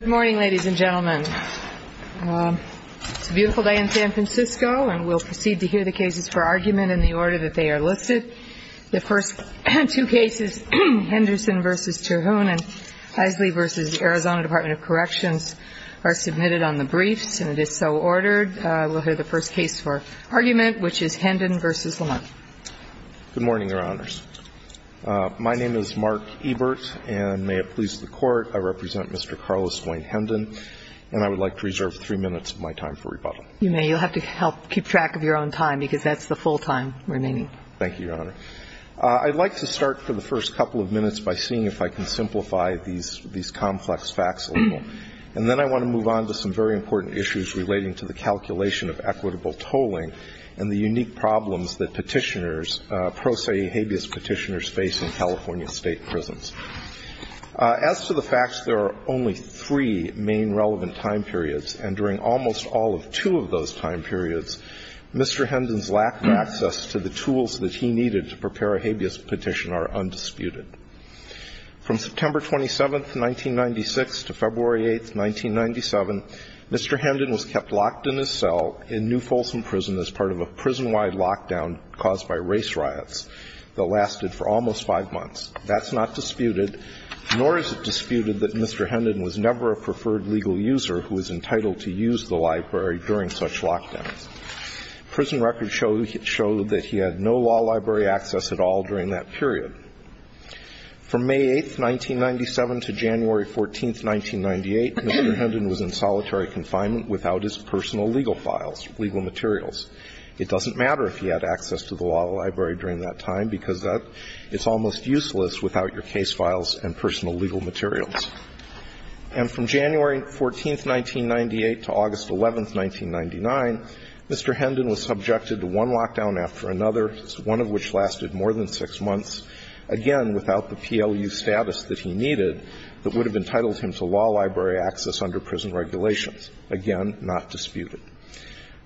Good morning, ladies and gentlemen. It's a beautiful day in San Francisco, and we'll proceed to hear the cases for argument in the order that they are listed. The first two cases, Henderson v. Terhune and Heisley v. Arizona Department of Corrections, are submitted on the briefs, and it is so ordered. We'll hear the first case for argument, which is Hendon v. Lamarque. Good morning, Your Honors. My name is Mark Ebert, and may it please the Court, I represent Mr. Carlos Wayne Hendon, and I would like to reserve three minutes of my time for rebuttal. You may. You'll have to help keep track of your own time, because that's the full time remaining. Thank you, Your Honor. I'd like to start for the first couple of minutes by seeing if I can simplify these complex facts a little. And then I want to move on to some very important issues relating to the calculation of equitable tolling and the unique problems that petitioners, pro se habeas petitioners face in California state prisons. As to the facts, there are only three main relevant time periods, and during almost all of two of those time periods, Mr. Hendon's lack of access to the tools that he needed to prepare a habeas petition are undisputed. From September 27, 1996, to February 8, 1997, Mr. Hendon was kept locked in his cell in New Folsom Prison as part of a prison-wide lockdown caused by race riots that lasted for almost five months. That's not disputed, nor is it disputed that Mr. Hendon was never a preferred legal user who was entitled to use the library during such lockdowns. Prison records show that he had no law library access at all during that period. From May 8, 1997, to January 14, 1998, Mr. Hendon was in solitary confinement without his personal legal files, legal materials. It doesn't matter if he had access to the law library during that time, because it's almost useless without your case files and personal legal materials. And from January 14, 1998, to August 11, 1999, Mr. Hendon was subjected to one lockdown after another, one of which lasted more than six months, again, without the PLU status that he needed that would have entitled him to law library access under prison regulations. Again, not disputed.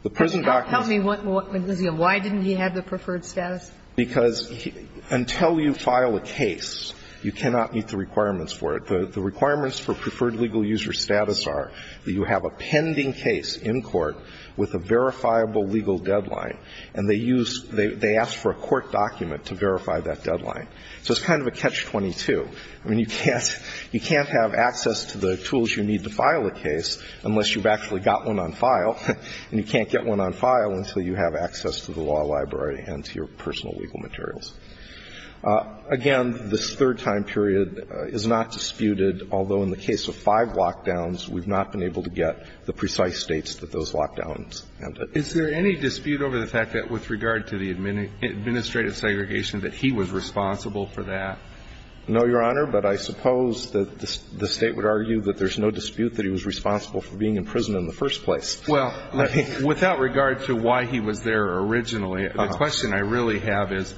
The prison documents are not disputed. Sotomayor, why didn't he have the preferred status? Because until you file a case, you cannot meet the requirements for it. The requirements for preferred legal user status are that you have a pending case in court with a verifiable legal deadline, and they use they ask for a court document to verify that deadline. So it's kind of a catch-22. I mean, you can't have access to the tools you need to file a case unless you've actually got one on file, and you can't get one on file until you have access to the law library and to your personal legal materials. Again, this third time period is not disputed, although in the case of five lockdowns, we've not been able to get the precise states that those lockdowns ended. Is there any dispute over the fact that with regard to the administrative segregation that he was responsible for that? No, Your Honor, but I suppose that the State would argue that there's no dispute that he was responsible for being in prison in the first place. Well, without regard to why he was there originally, the question I really have is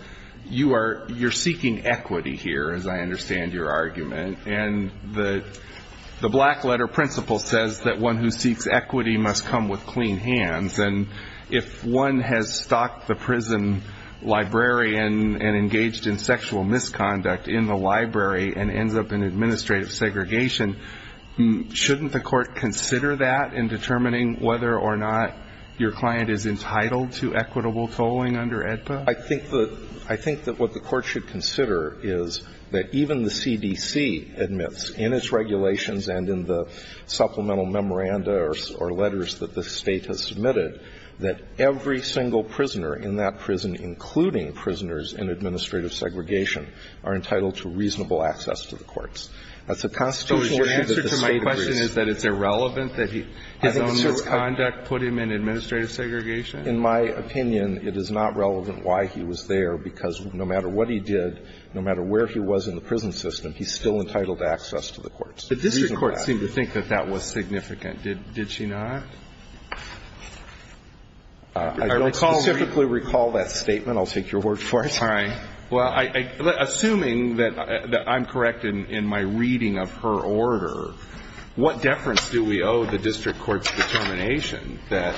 you are seeking equity here, as I understand your argument. And the black letter principle says that one who seeks equity must come with clean hands. And if one has stalked the prison librarian and engaged in sexual misconduct in the library and ends up in administrative segregation, shouldn't the court consider that in determining whether or not your client is entitled to equitable tolling under AEDPA? I think that what the court should consider is that even the CDC admits in its regulations and in the supplemental memoranda or letters that the State has submitted that every single prisoner in that prison, including prisoners in administrative segregation, are entitled to reasonable access to the courts. That's a constitutional issue that the State agrees. So your answer to my question is that it's irrelevant that his own misconduct put him in administrative segregation? In my opinion, it is not relevant why he was there, because no matter what he did, no matter where he was in the prison system, he's still entitled to access to the courts. The district courts seem to think that that was significant. Did she not? I don't specifically recall that statement. I'll take your word for it. Fine. Well, assuming that I'm correct in my reading of her order, what deference do we owe the district court's determination that,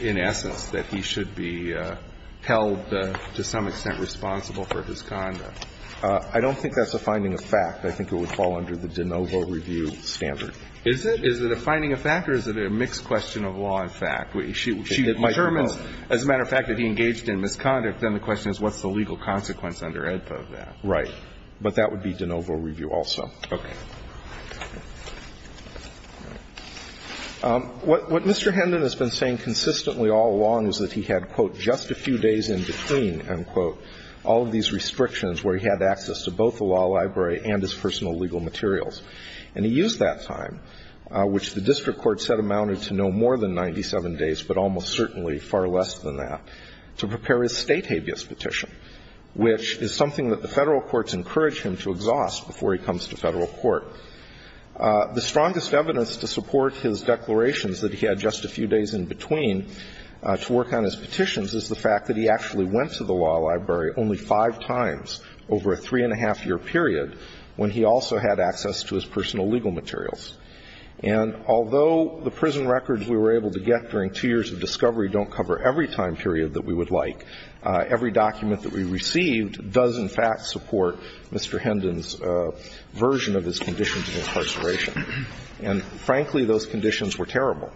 in essence, that he should be held to some extent responsible for his conduct? I don't think that's a finding of fact. I think it would fall under the de novo review standard. Is it? Is it a finding of fact or is it a mixed question of law and fact? She determines, as a matter of fact, that he engaged in misconduct. Then the question is what's the legal consequence under AEDPA of that? Right. But that would be de novo review also. Okay. What Mr. Hendon has been saying consistently all along is that he had, quote, just a few days in between, end quote, all of these restrictions where he had access to both the law library and his personal legal materials. And he used that time, which the district courts said amounted to no more than 97 days, but almost certainly far less than that, to prepare his State habeas petition, which is something that the Federal courts encourage him to exhaust before he comes to Federal court. The strongest evidence to support his declarations that he had just a few days in between to work on his petitions is the fact that he actually went to the law library only five times over a three-and-a-half-year period when he also had access to his personal legal materials. And although the prison records we were able to get during two years of discovery don't cover every time period that we would like, every document that we received does, in fact, support Mr. Hendon's version of his conditions of incarceration. And, frankly, those conditions were terrible.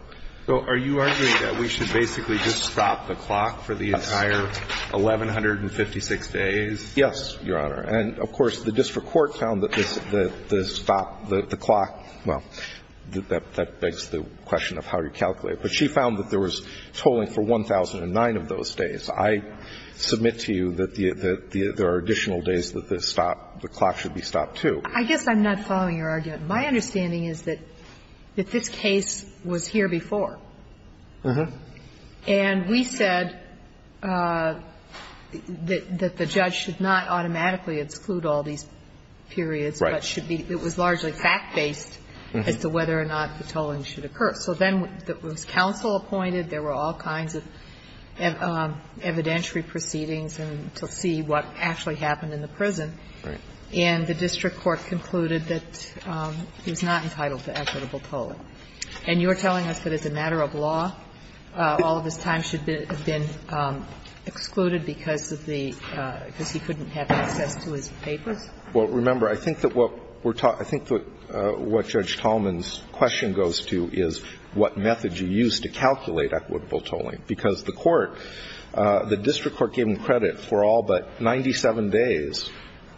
So are you arguing that we should basically just stop the clock for the entire 1,156 days? Yes, Your Honor. And, of course, the district court found that the stop, the clock, well, that begs the question of how you calculate it. But she found that there was tolling for 1,009 of those days. I submit to you that there are additional days that the stop, the clock should be stopped, too. I guess I'm not following your argument. My understanding is that this case was here before. Uh-huh. And we said that the judge should not automatically exclude all these periods. Right. But it was largely fact-based as to whether or not the tolling should occur. So then there was counsel appointed. There were all kinds of evidentiary proceedings to see what actually happened in the prison. Right. And the district court concluded that he was not entitled to equitable tolling. And you're telling us that as a matter of law, all of his time should have been excluded because of the – because he couldn't have access to his papers? Well, remember, I think that what we're – I think that what Judge Tallman's question goes to is what method you use to calculate equitable tolling. Because the court – the district court gave him credit for all but 97 days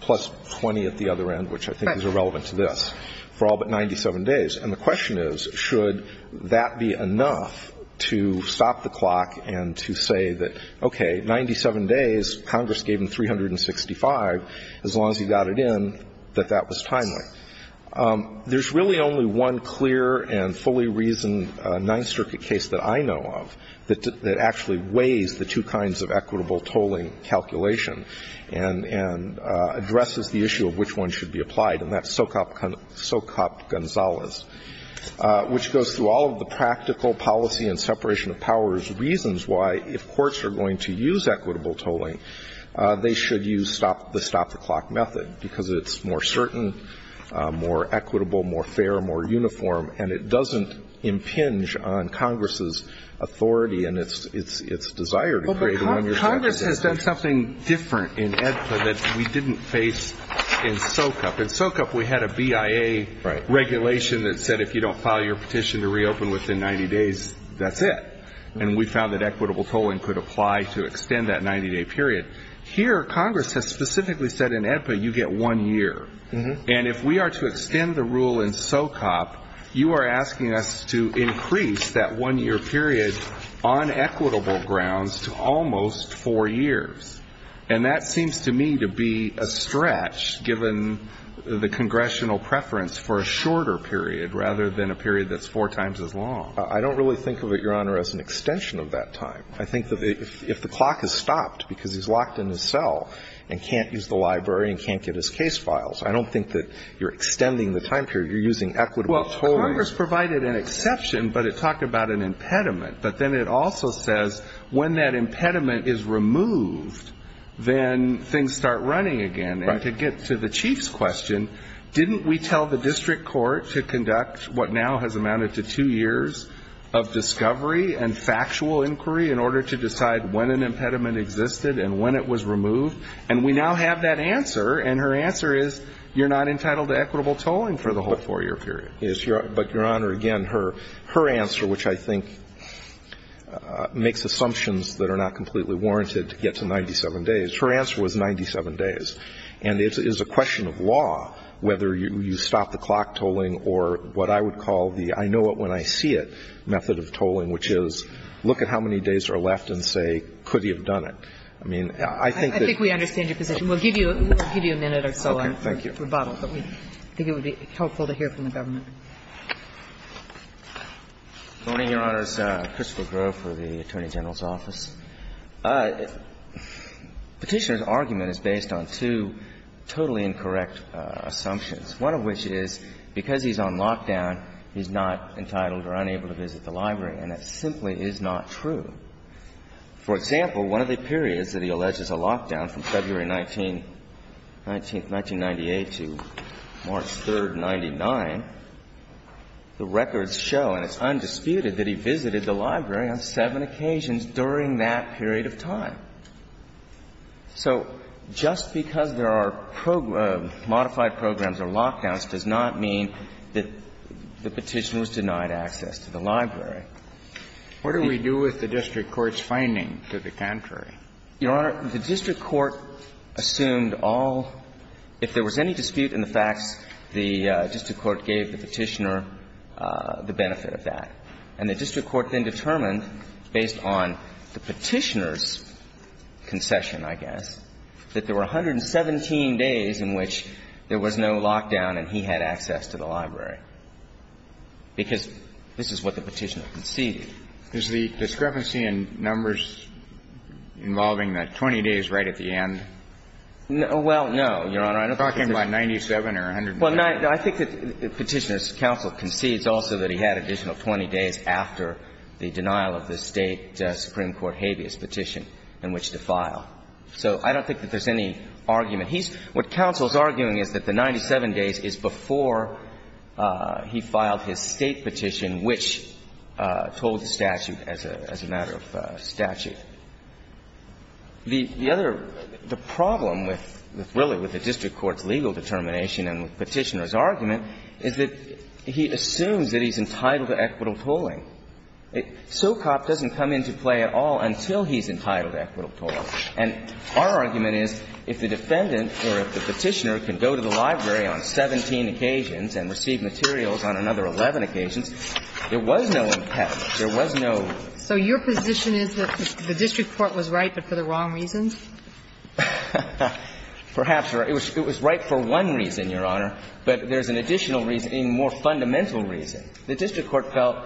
plus 20 at the other end, which I think is irrelevant to this, for all but 97 days. And the question is, should that be enough to stop the clock and to say that, okay, 97 days, Congress gave him 365. As long as he got it in, that that was timely. There's really only one clear and fully reasoned Ninth Circuit case that I know of that actually weighs the two kinds of equitable tolling calculation and addresses the issue of which one should be applied, and that's Socop Gonzales, which goes through all of the practical policy and separation of powers reasons why, if courts are going to use equitable tolling, they should use the stop-the-clock method because it's more certain, more equitable, more fair, more uniform, and it doesn't impinge on Congress's authority and its desire to create a one-year statute. Well, but Congress has done something different in AEDPA that we didn't face in Socop. We had a BIA regulation that said if you don't file your petition to reopen within 90 days, that's it. And we found that equitable tolling could apply to extend that 90-day period. Here Congress has specifically said in AEDPA you get one year. And if we are to extend the rule in Socop, you are asking us to increase that one-year period on equitable grounds to almost four years. And that seems to me to be a stretch given the congressional preference for a shorter period rather than a period that's four times as long. I don't really think of it, Your Honor, as an extension of that time. I think that if the clock has stopped because he's locked in his cell and can't use the library and can't get his case files, I don't think that you're extending the time period. You're using equitable tolling. Well, Congress provided an exception, but it talked about an impediment. But then it also says when that impediment is removed, then things start running again. And to get to the Chief's question, didn't we tell the district court to conduct what now has amounted to two years of discovery and factual inquiry in order to decide when an impediment existed and when it was removed? And we now have that answer. And her answer is you're not entitled to equitable tolling for the whole four-year period. But, Your Honor, again, her answer, which I think makes assumptions that are not completely warranted to get to 97 days, her answer was 97 days. And it's a question of law whether you stop the clock tolling or what I would call the I-know-it-when-I-see-it method of tolling, which is look at how many days are left and say, could he have done it? I mean, I think that you can't do that. I think we understand your position. We'll give you a minute or so on rebuttal, but we think it would be helpful to hear from the government. Gannon, Jr.: Good morning, Your Honors. Christopher Grove for the Attorney General's Office. Petitioner's argument is based on two totally incorrect assumptions, one of which is because he's on lockdown, he's not entitled or unable to visit the library. And that simply is not true. For example, one of the periods that he alleges a lockdown from February 19th, 1998 to March 3rd, 1999, the records show, and it's undisputed, that he visited the library on seven occasions during that period of time. So just because there are modified programs or lockdowns does not mean that the Petitioner was denied access to the library. What do we do with the district court's finding to the contrary? Your Honor, the district court assumed all – if there was any dispute in the facts, the district court gave the Petitioner the benefit of that. And the district court then determined, based on the Petitioner's concession, I guess, that there were 117 days in which there was no lockdown and he had access to the library, because this is what the Petitioner conceded. Is the discrepancy in numbers involving the 20 days right at the end? Well, no, Your Honor. I'm talking about 97 or 117. I think that Petitioner's counsel concedes also that he had additional 20 days after the denial of the State Supreme Court habeas petition in which to file. So I don't think that there's any argument. What counsel is arguing is that the 97 days is before he filed his State petition, which told the statute as a matter of statute. The other – the problem with – really with the district court's legal determination and with Petitioner's argument is that he assumes that he's entitled to equitable tolling. SOCOP doesn't come into play at all until he's entitled to equitable tolling. And our argument is if the defendant or if the Petitioner can go to the library on 17 occasions and receive materials on another 11 occasions, there was no impediment. There was no rule. So your position is that the district court was right, but for the wrong reasons? Perhaps. It was right for one reason, Your Honor. But there's an additional reason, a more fundamental reason. The district court felt,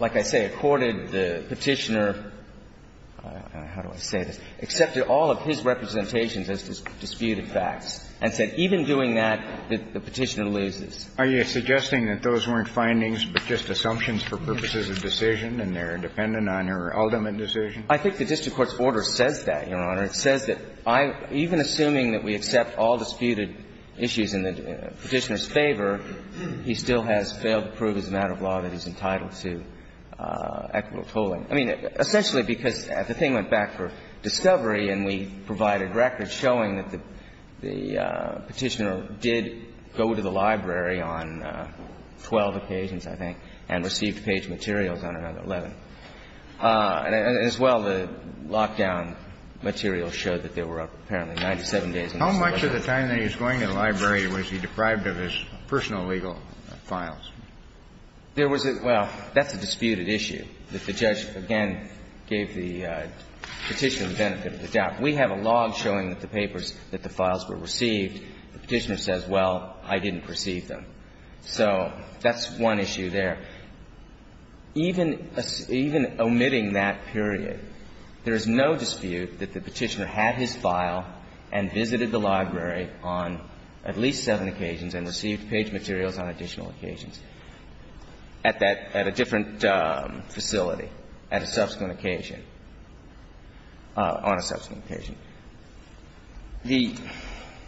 like I say, accorded the Petitioner – how do I say this? Accepted all of his representations as disputed facts and said, even doing that, the Petitioner loses. Are you suggesting that those weren't findings, but just assumptions for purposes of decision and they're dependent on your ultimate decision? I think the district court's order says that, Your Honor. It says that I – even assuming that we accept all disputed issues in the Petitioner's favor, he still has failed to prove as a matter of law that he's entitled to equitable tolling. I mean, essentially, because the thing went back for discovery and we provided records showing that the Petitioner did go to the library on 12 occasions, I think, and received page materials on another 11. And as well, the lockdown materials showed that there were apparently 97 days in his library. How much of the time that he was going to the library was he deprived of his personal legal files? There was a – well, that's a disputed issue that the judge, again, gave the Petitioner the benefit of the doubt. We have a log showing that the papers, that the files were received. The Petitioner says, well, I didn't receive them. So that's one issue there. Even omitting that period, there is no dispute that the Petitioner had his file and visited the library on at least seven occasions and received page materials on additional occasions. At that – at a different facility, at a subsequent occasion, on a subsequent occasion. The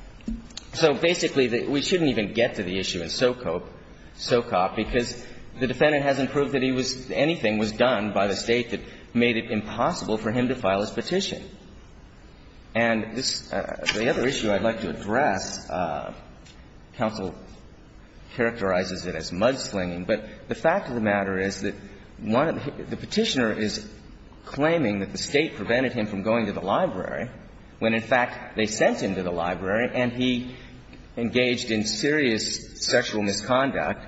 – so basically, we shouldn't even get to the issue in SoCOP, because the defendant hasn't proved that he was – anything was done by the State that made it impossible for him to file his petition. And this – the other issue I'd like to address, counsel characterizes it as mudslinging, but the fact of the matter is that one of the – the Petitioner is claiming that the State prevented him from going to the library when, in fact, they sent him to the library and he engaged in serious sexual misconduct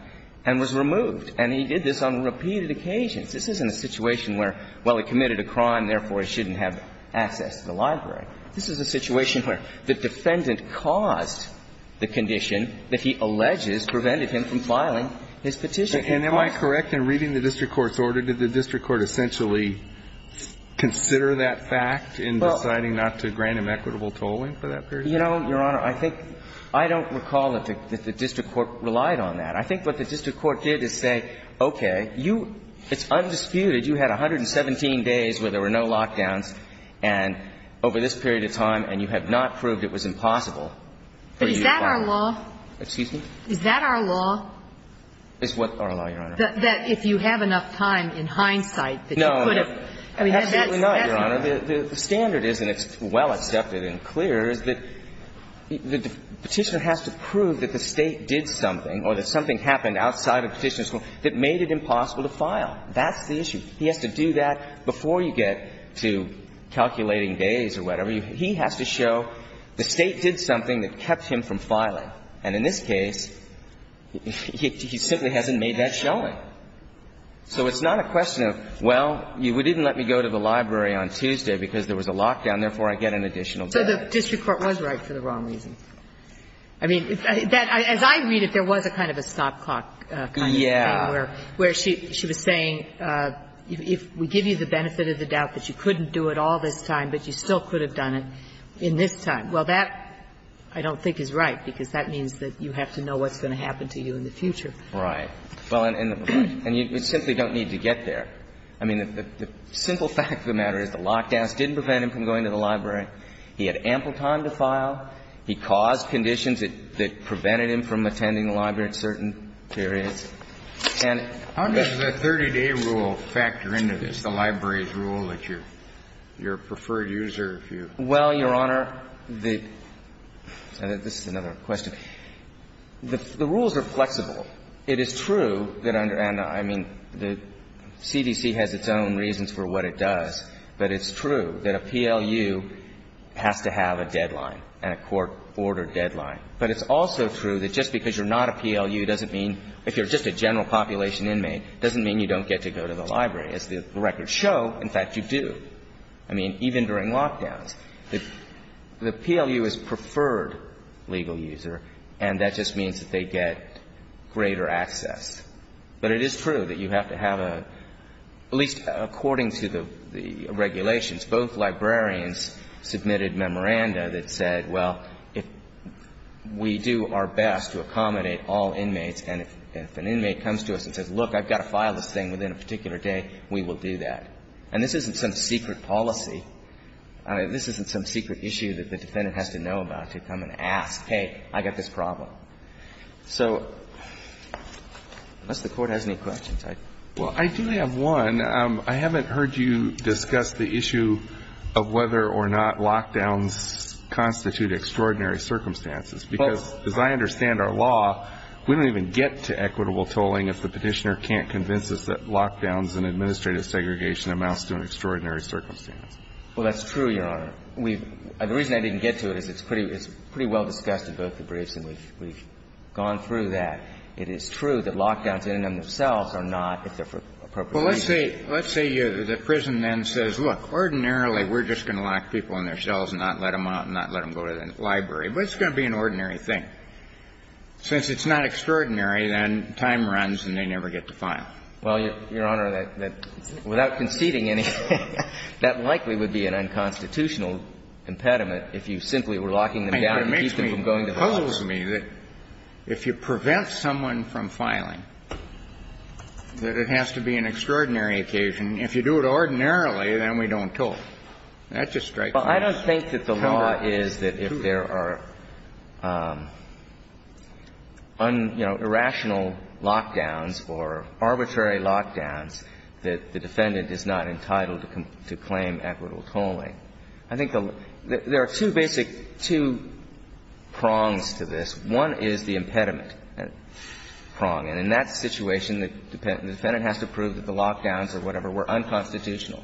and was removed. And he did this on repeated occasions. This isn't a situation where, well, he committed a crime, therefore he shouldn't have access to the library. This is a situation where the defendant caused the condition that he alleges prevented him from filing his petition. And am I correct in reading the district court's order? Did the district court essentially consider that fact in deciding not to grant him equitable tolling for that period? You know, Your Honor, I think – I don't recall that the district court relied on that. I think what the district court did is say, okay, you – it's undisputed, you had 117 days where there were no lockdowns, and over this period of time, and you have not proved it was impossible for you to file. But is that our law? Excuse me? Is that our law? Is what our law, Your Honor? That if you have enough time, in hindsight, that you could have – No, absolutely not, Your Honor. The standard is, and it's well accepted and clear, is that the Petitioner has to prove that the State did something or that something happened outside of Petitioner's rule that made it impossible to file. That's the issue. He has to do that before you get to calculating days or whatever. He has to show the State did something that kept him from filing. And in this case, he simply hasn't made that showing. So it's not a question of, well, you didn't let me go to the library on Tuesday because there was a lockdown, therefore I get an additional day. So the district court was right for the wrong reason. I mean, as I read it, there was a kind of a stop clock kind of thing where she was saying if we give you the benefit of the doubt that you couldn't do it all this time, but you still could have done it in this time. Well, that I don't think is right, because that means that you have to know what's going to happen to you in the future. Right. Well, and you simply don't need to get there. I mean, the simple fact of the matter is the lockdowns didn't prevent him from going to the library. He had ample time to file. He caused conditions that prevented him from attending the library at certain periods. How does the 30-day rule factor into this, the library's rule, that you're a preferred user if you? Well, Your Honor, the – this is another question. The rules are flexible. It is true that under – and I mean, the CDC has its own reasons for what it does, but it's true that a PLU has to have a deadline and a court-ordered deadline. But it's also true that just because you're not a PLU doesn't mean – if you're just a general population inmate, doesn't mean you don't get to go to the library. As the records show, in fact, you do. I mean, even during lockdowns. The PLU is preferred legal user, and that just means that they get greater access. But it is true that you have to have a – at least according to the regulations, both librarians submitted memoranda that said, well, if we do our best to accommodate all inmates and if an inmate comes to us and says, look, I've got to file this thing within a particular day, we will do that. And this isn't some secret policy. This isn't some secret issue that the defendant has to know about to come and ask, hey, I've got this problem. So unless the Court has any questions, I'd – Kennedy. Yes, Your Honor. One, I haven't heard you discuss the issue of whether or not lockdowns constitute extraordinary circumstances, because as I understand our law, we don't even get to equitable tolling if the Petitioner can't convince us that lockdowns and administrative segregation amounts to an extraordinary circumstance. Well, that's true, Your Honor. We've – the reason I didn't get to it is it's pretty – it's pretty well discussed in both the briefs, and we've gone through that. It is true that lockdowns in and of themselves are not, if they're for appropriation. Well, let's say – let's say the prison then says, look, ordinarily, we're just going to lock people in their cells and not let them out and not let them go to the library, but it's going to be an ordinary thing. Since it's not extraordinary, then time runs and they never get to file. Well, Your Honor, that – without conceding anything, that likely would be an unconstitutional impediment if you simply were locking them down to keep them from going to jail. It puzzles me that if you prevent someone from filing, that it has to be an extraordinary occasion. If you do it ordinarily, then we don't toll. That just strikes me as counterintuitive. Well, I don't think that the law is that if there are, you know, irrational lockdowns or arbitrary lockdowns, that the defendant is not entitled to claim equitable tolling. I think there are two basic – two prongs to this. One is the impediment prong. And in that situation, the defendant has to prove that the lockdowns or whatever were unconstitutional.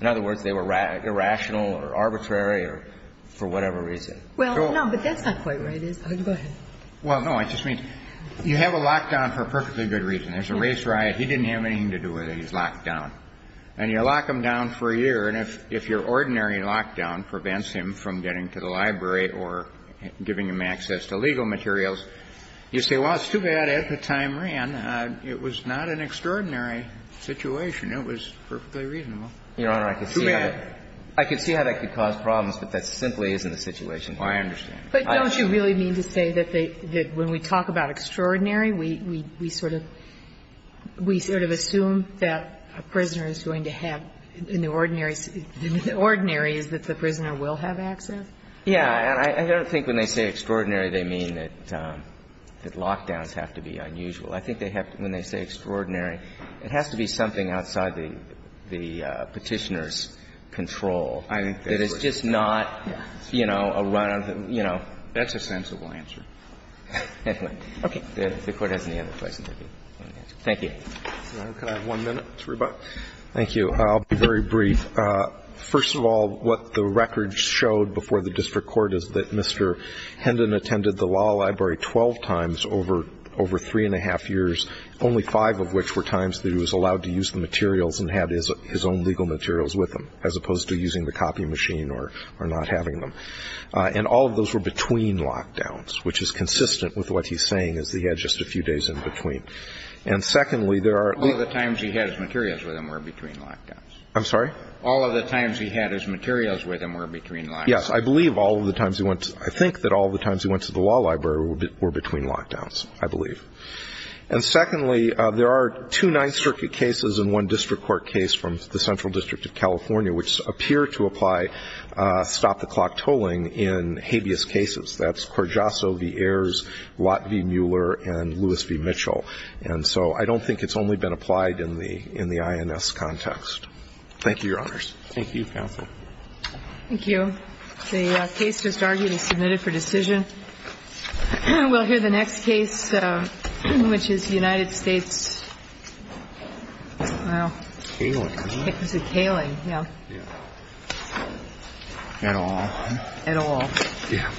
In other words, they were irrational or arbitrary or for whatever reason. Well, no, but that's not quite where it is. Go ahead. Well, no, I just mean you have a lockdown for a perfectly good reason. There's a race riot. He didn't have anything to do with it. He's locked down. And you lock him down for a year, and if your ordinary lockdown prevents him from getting to the library or giving him access to legal materials, you say, well, it's too bad, at the time ran, it was not an extraordinary situation. It was perfectly reasonable. Too bad. Your Honor, I could see how that could cause problems, but that simply isn't the situation. Well, I understand. But don't you really mean to say that they – that when we talk about extraordinary, we sort of – we sort of assume that a prisoner is going to have, in the ordinary – in the ordinary is that the prisoner will have access? Yeah. And I don't think when they say extraordinary, they mean that lockdowns have to be unusual. I think they have to – when they say extraordinary, it has to be something outside the Petitioner's control. That is just not, you know, a run of, you know. That's a sensible answer. Okay. If the Court has any other questions, I'd be willing to answer. Thank you. Your Honor, can I have one minute? Mr. Rubach? Thank you. I'll be very brief. First of all, what the records showed before the district court is that Mr. Hendon attended the law library 12 times over – over three and a half years, only five of which were times that he was allowed to use the materials and had his own legal materials with him, as opposed to using the copy machine or not having them. And all of those were between lockdowns, which is consistent with what he's saying, is that he had just a few days in between. And secondly, there are – All of the times he had his materials with him were between lockdowns. I'm sorry? All of the times he had his materials with him were between lockdowns. Yes. I believe all of the times he went – I think that all of the times he went to the law library were between lockdowns, I believe. And secondly, there are two Ninth Circuit cases and one district court case from California, which appear to apply stop-the-clock tolling in habeas cases. That's Corgiasso v. Ayers, Lott v. Mueller, and Lewis v. Mitchell. And so I don't think it's only been applied in the – in the INS context. Thank you, Your Honors. Thank you, Counsel. Thank you. The case just argued is submitted for decision. We'll hear the next case, which is United States – well. Kaling, was it? Kaling, yeah. Yeah. At all? At all. Yeah.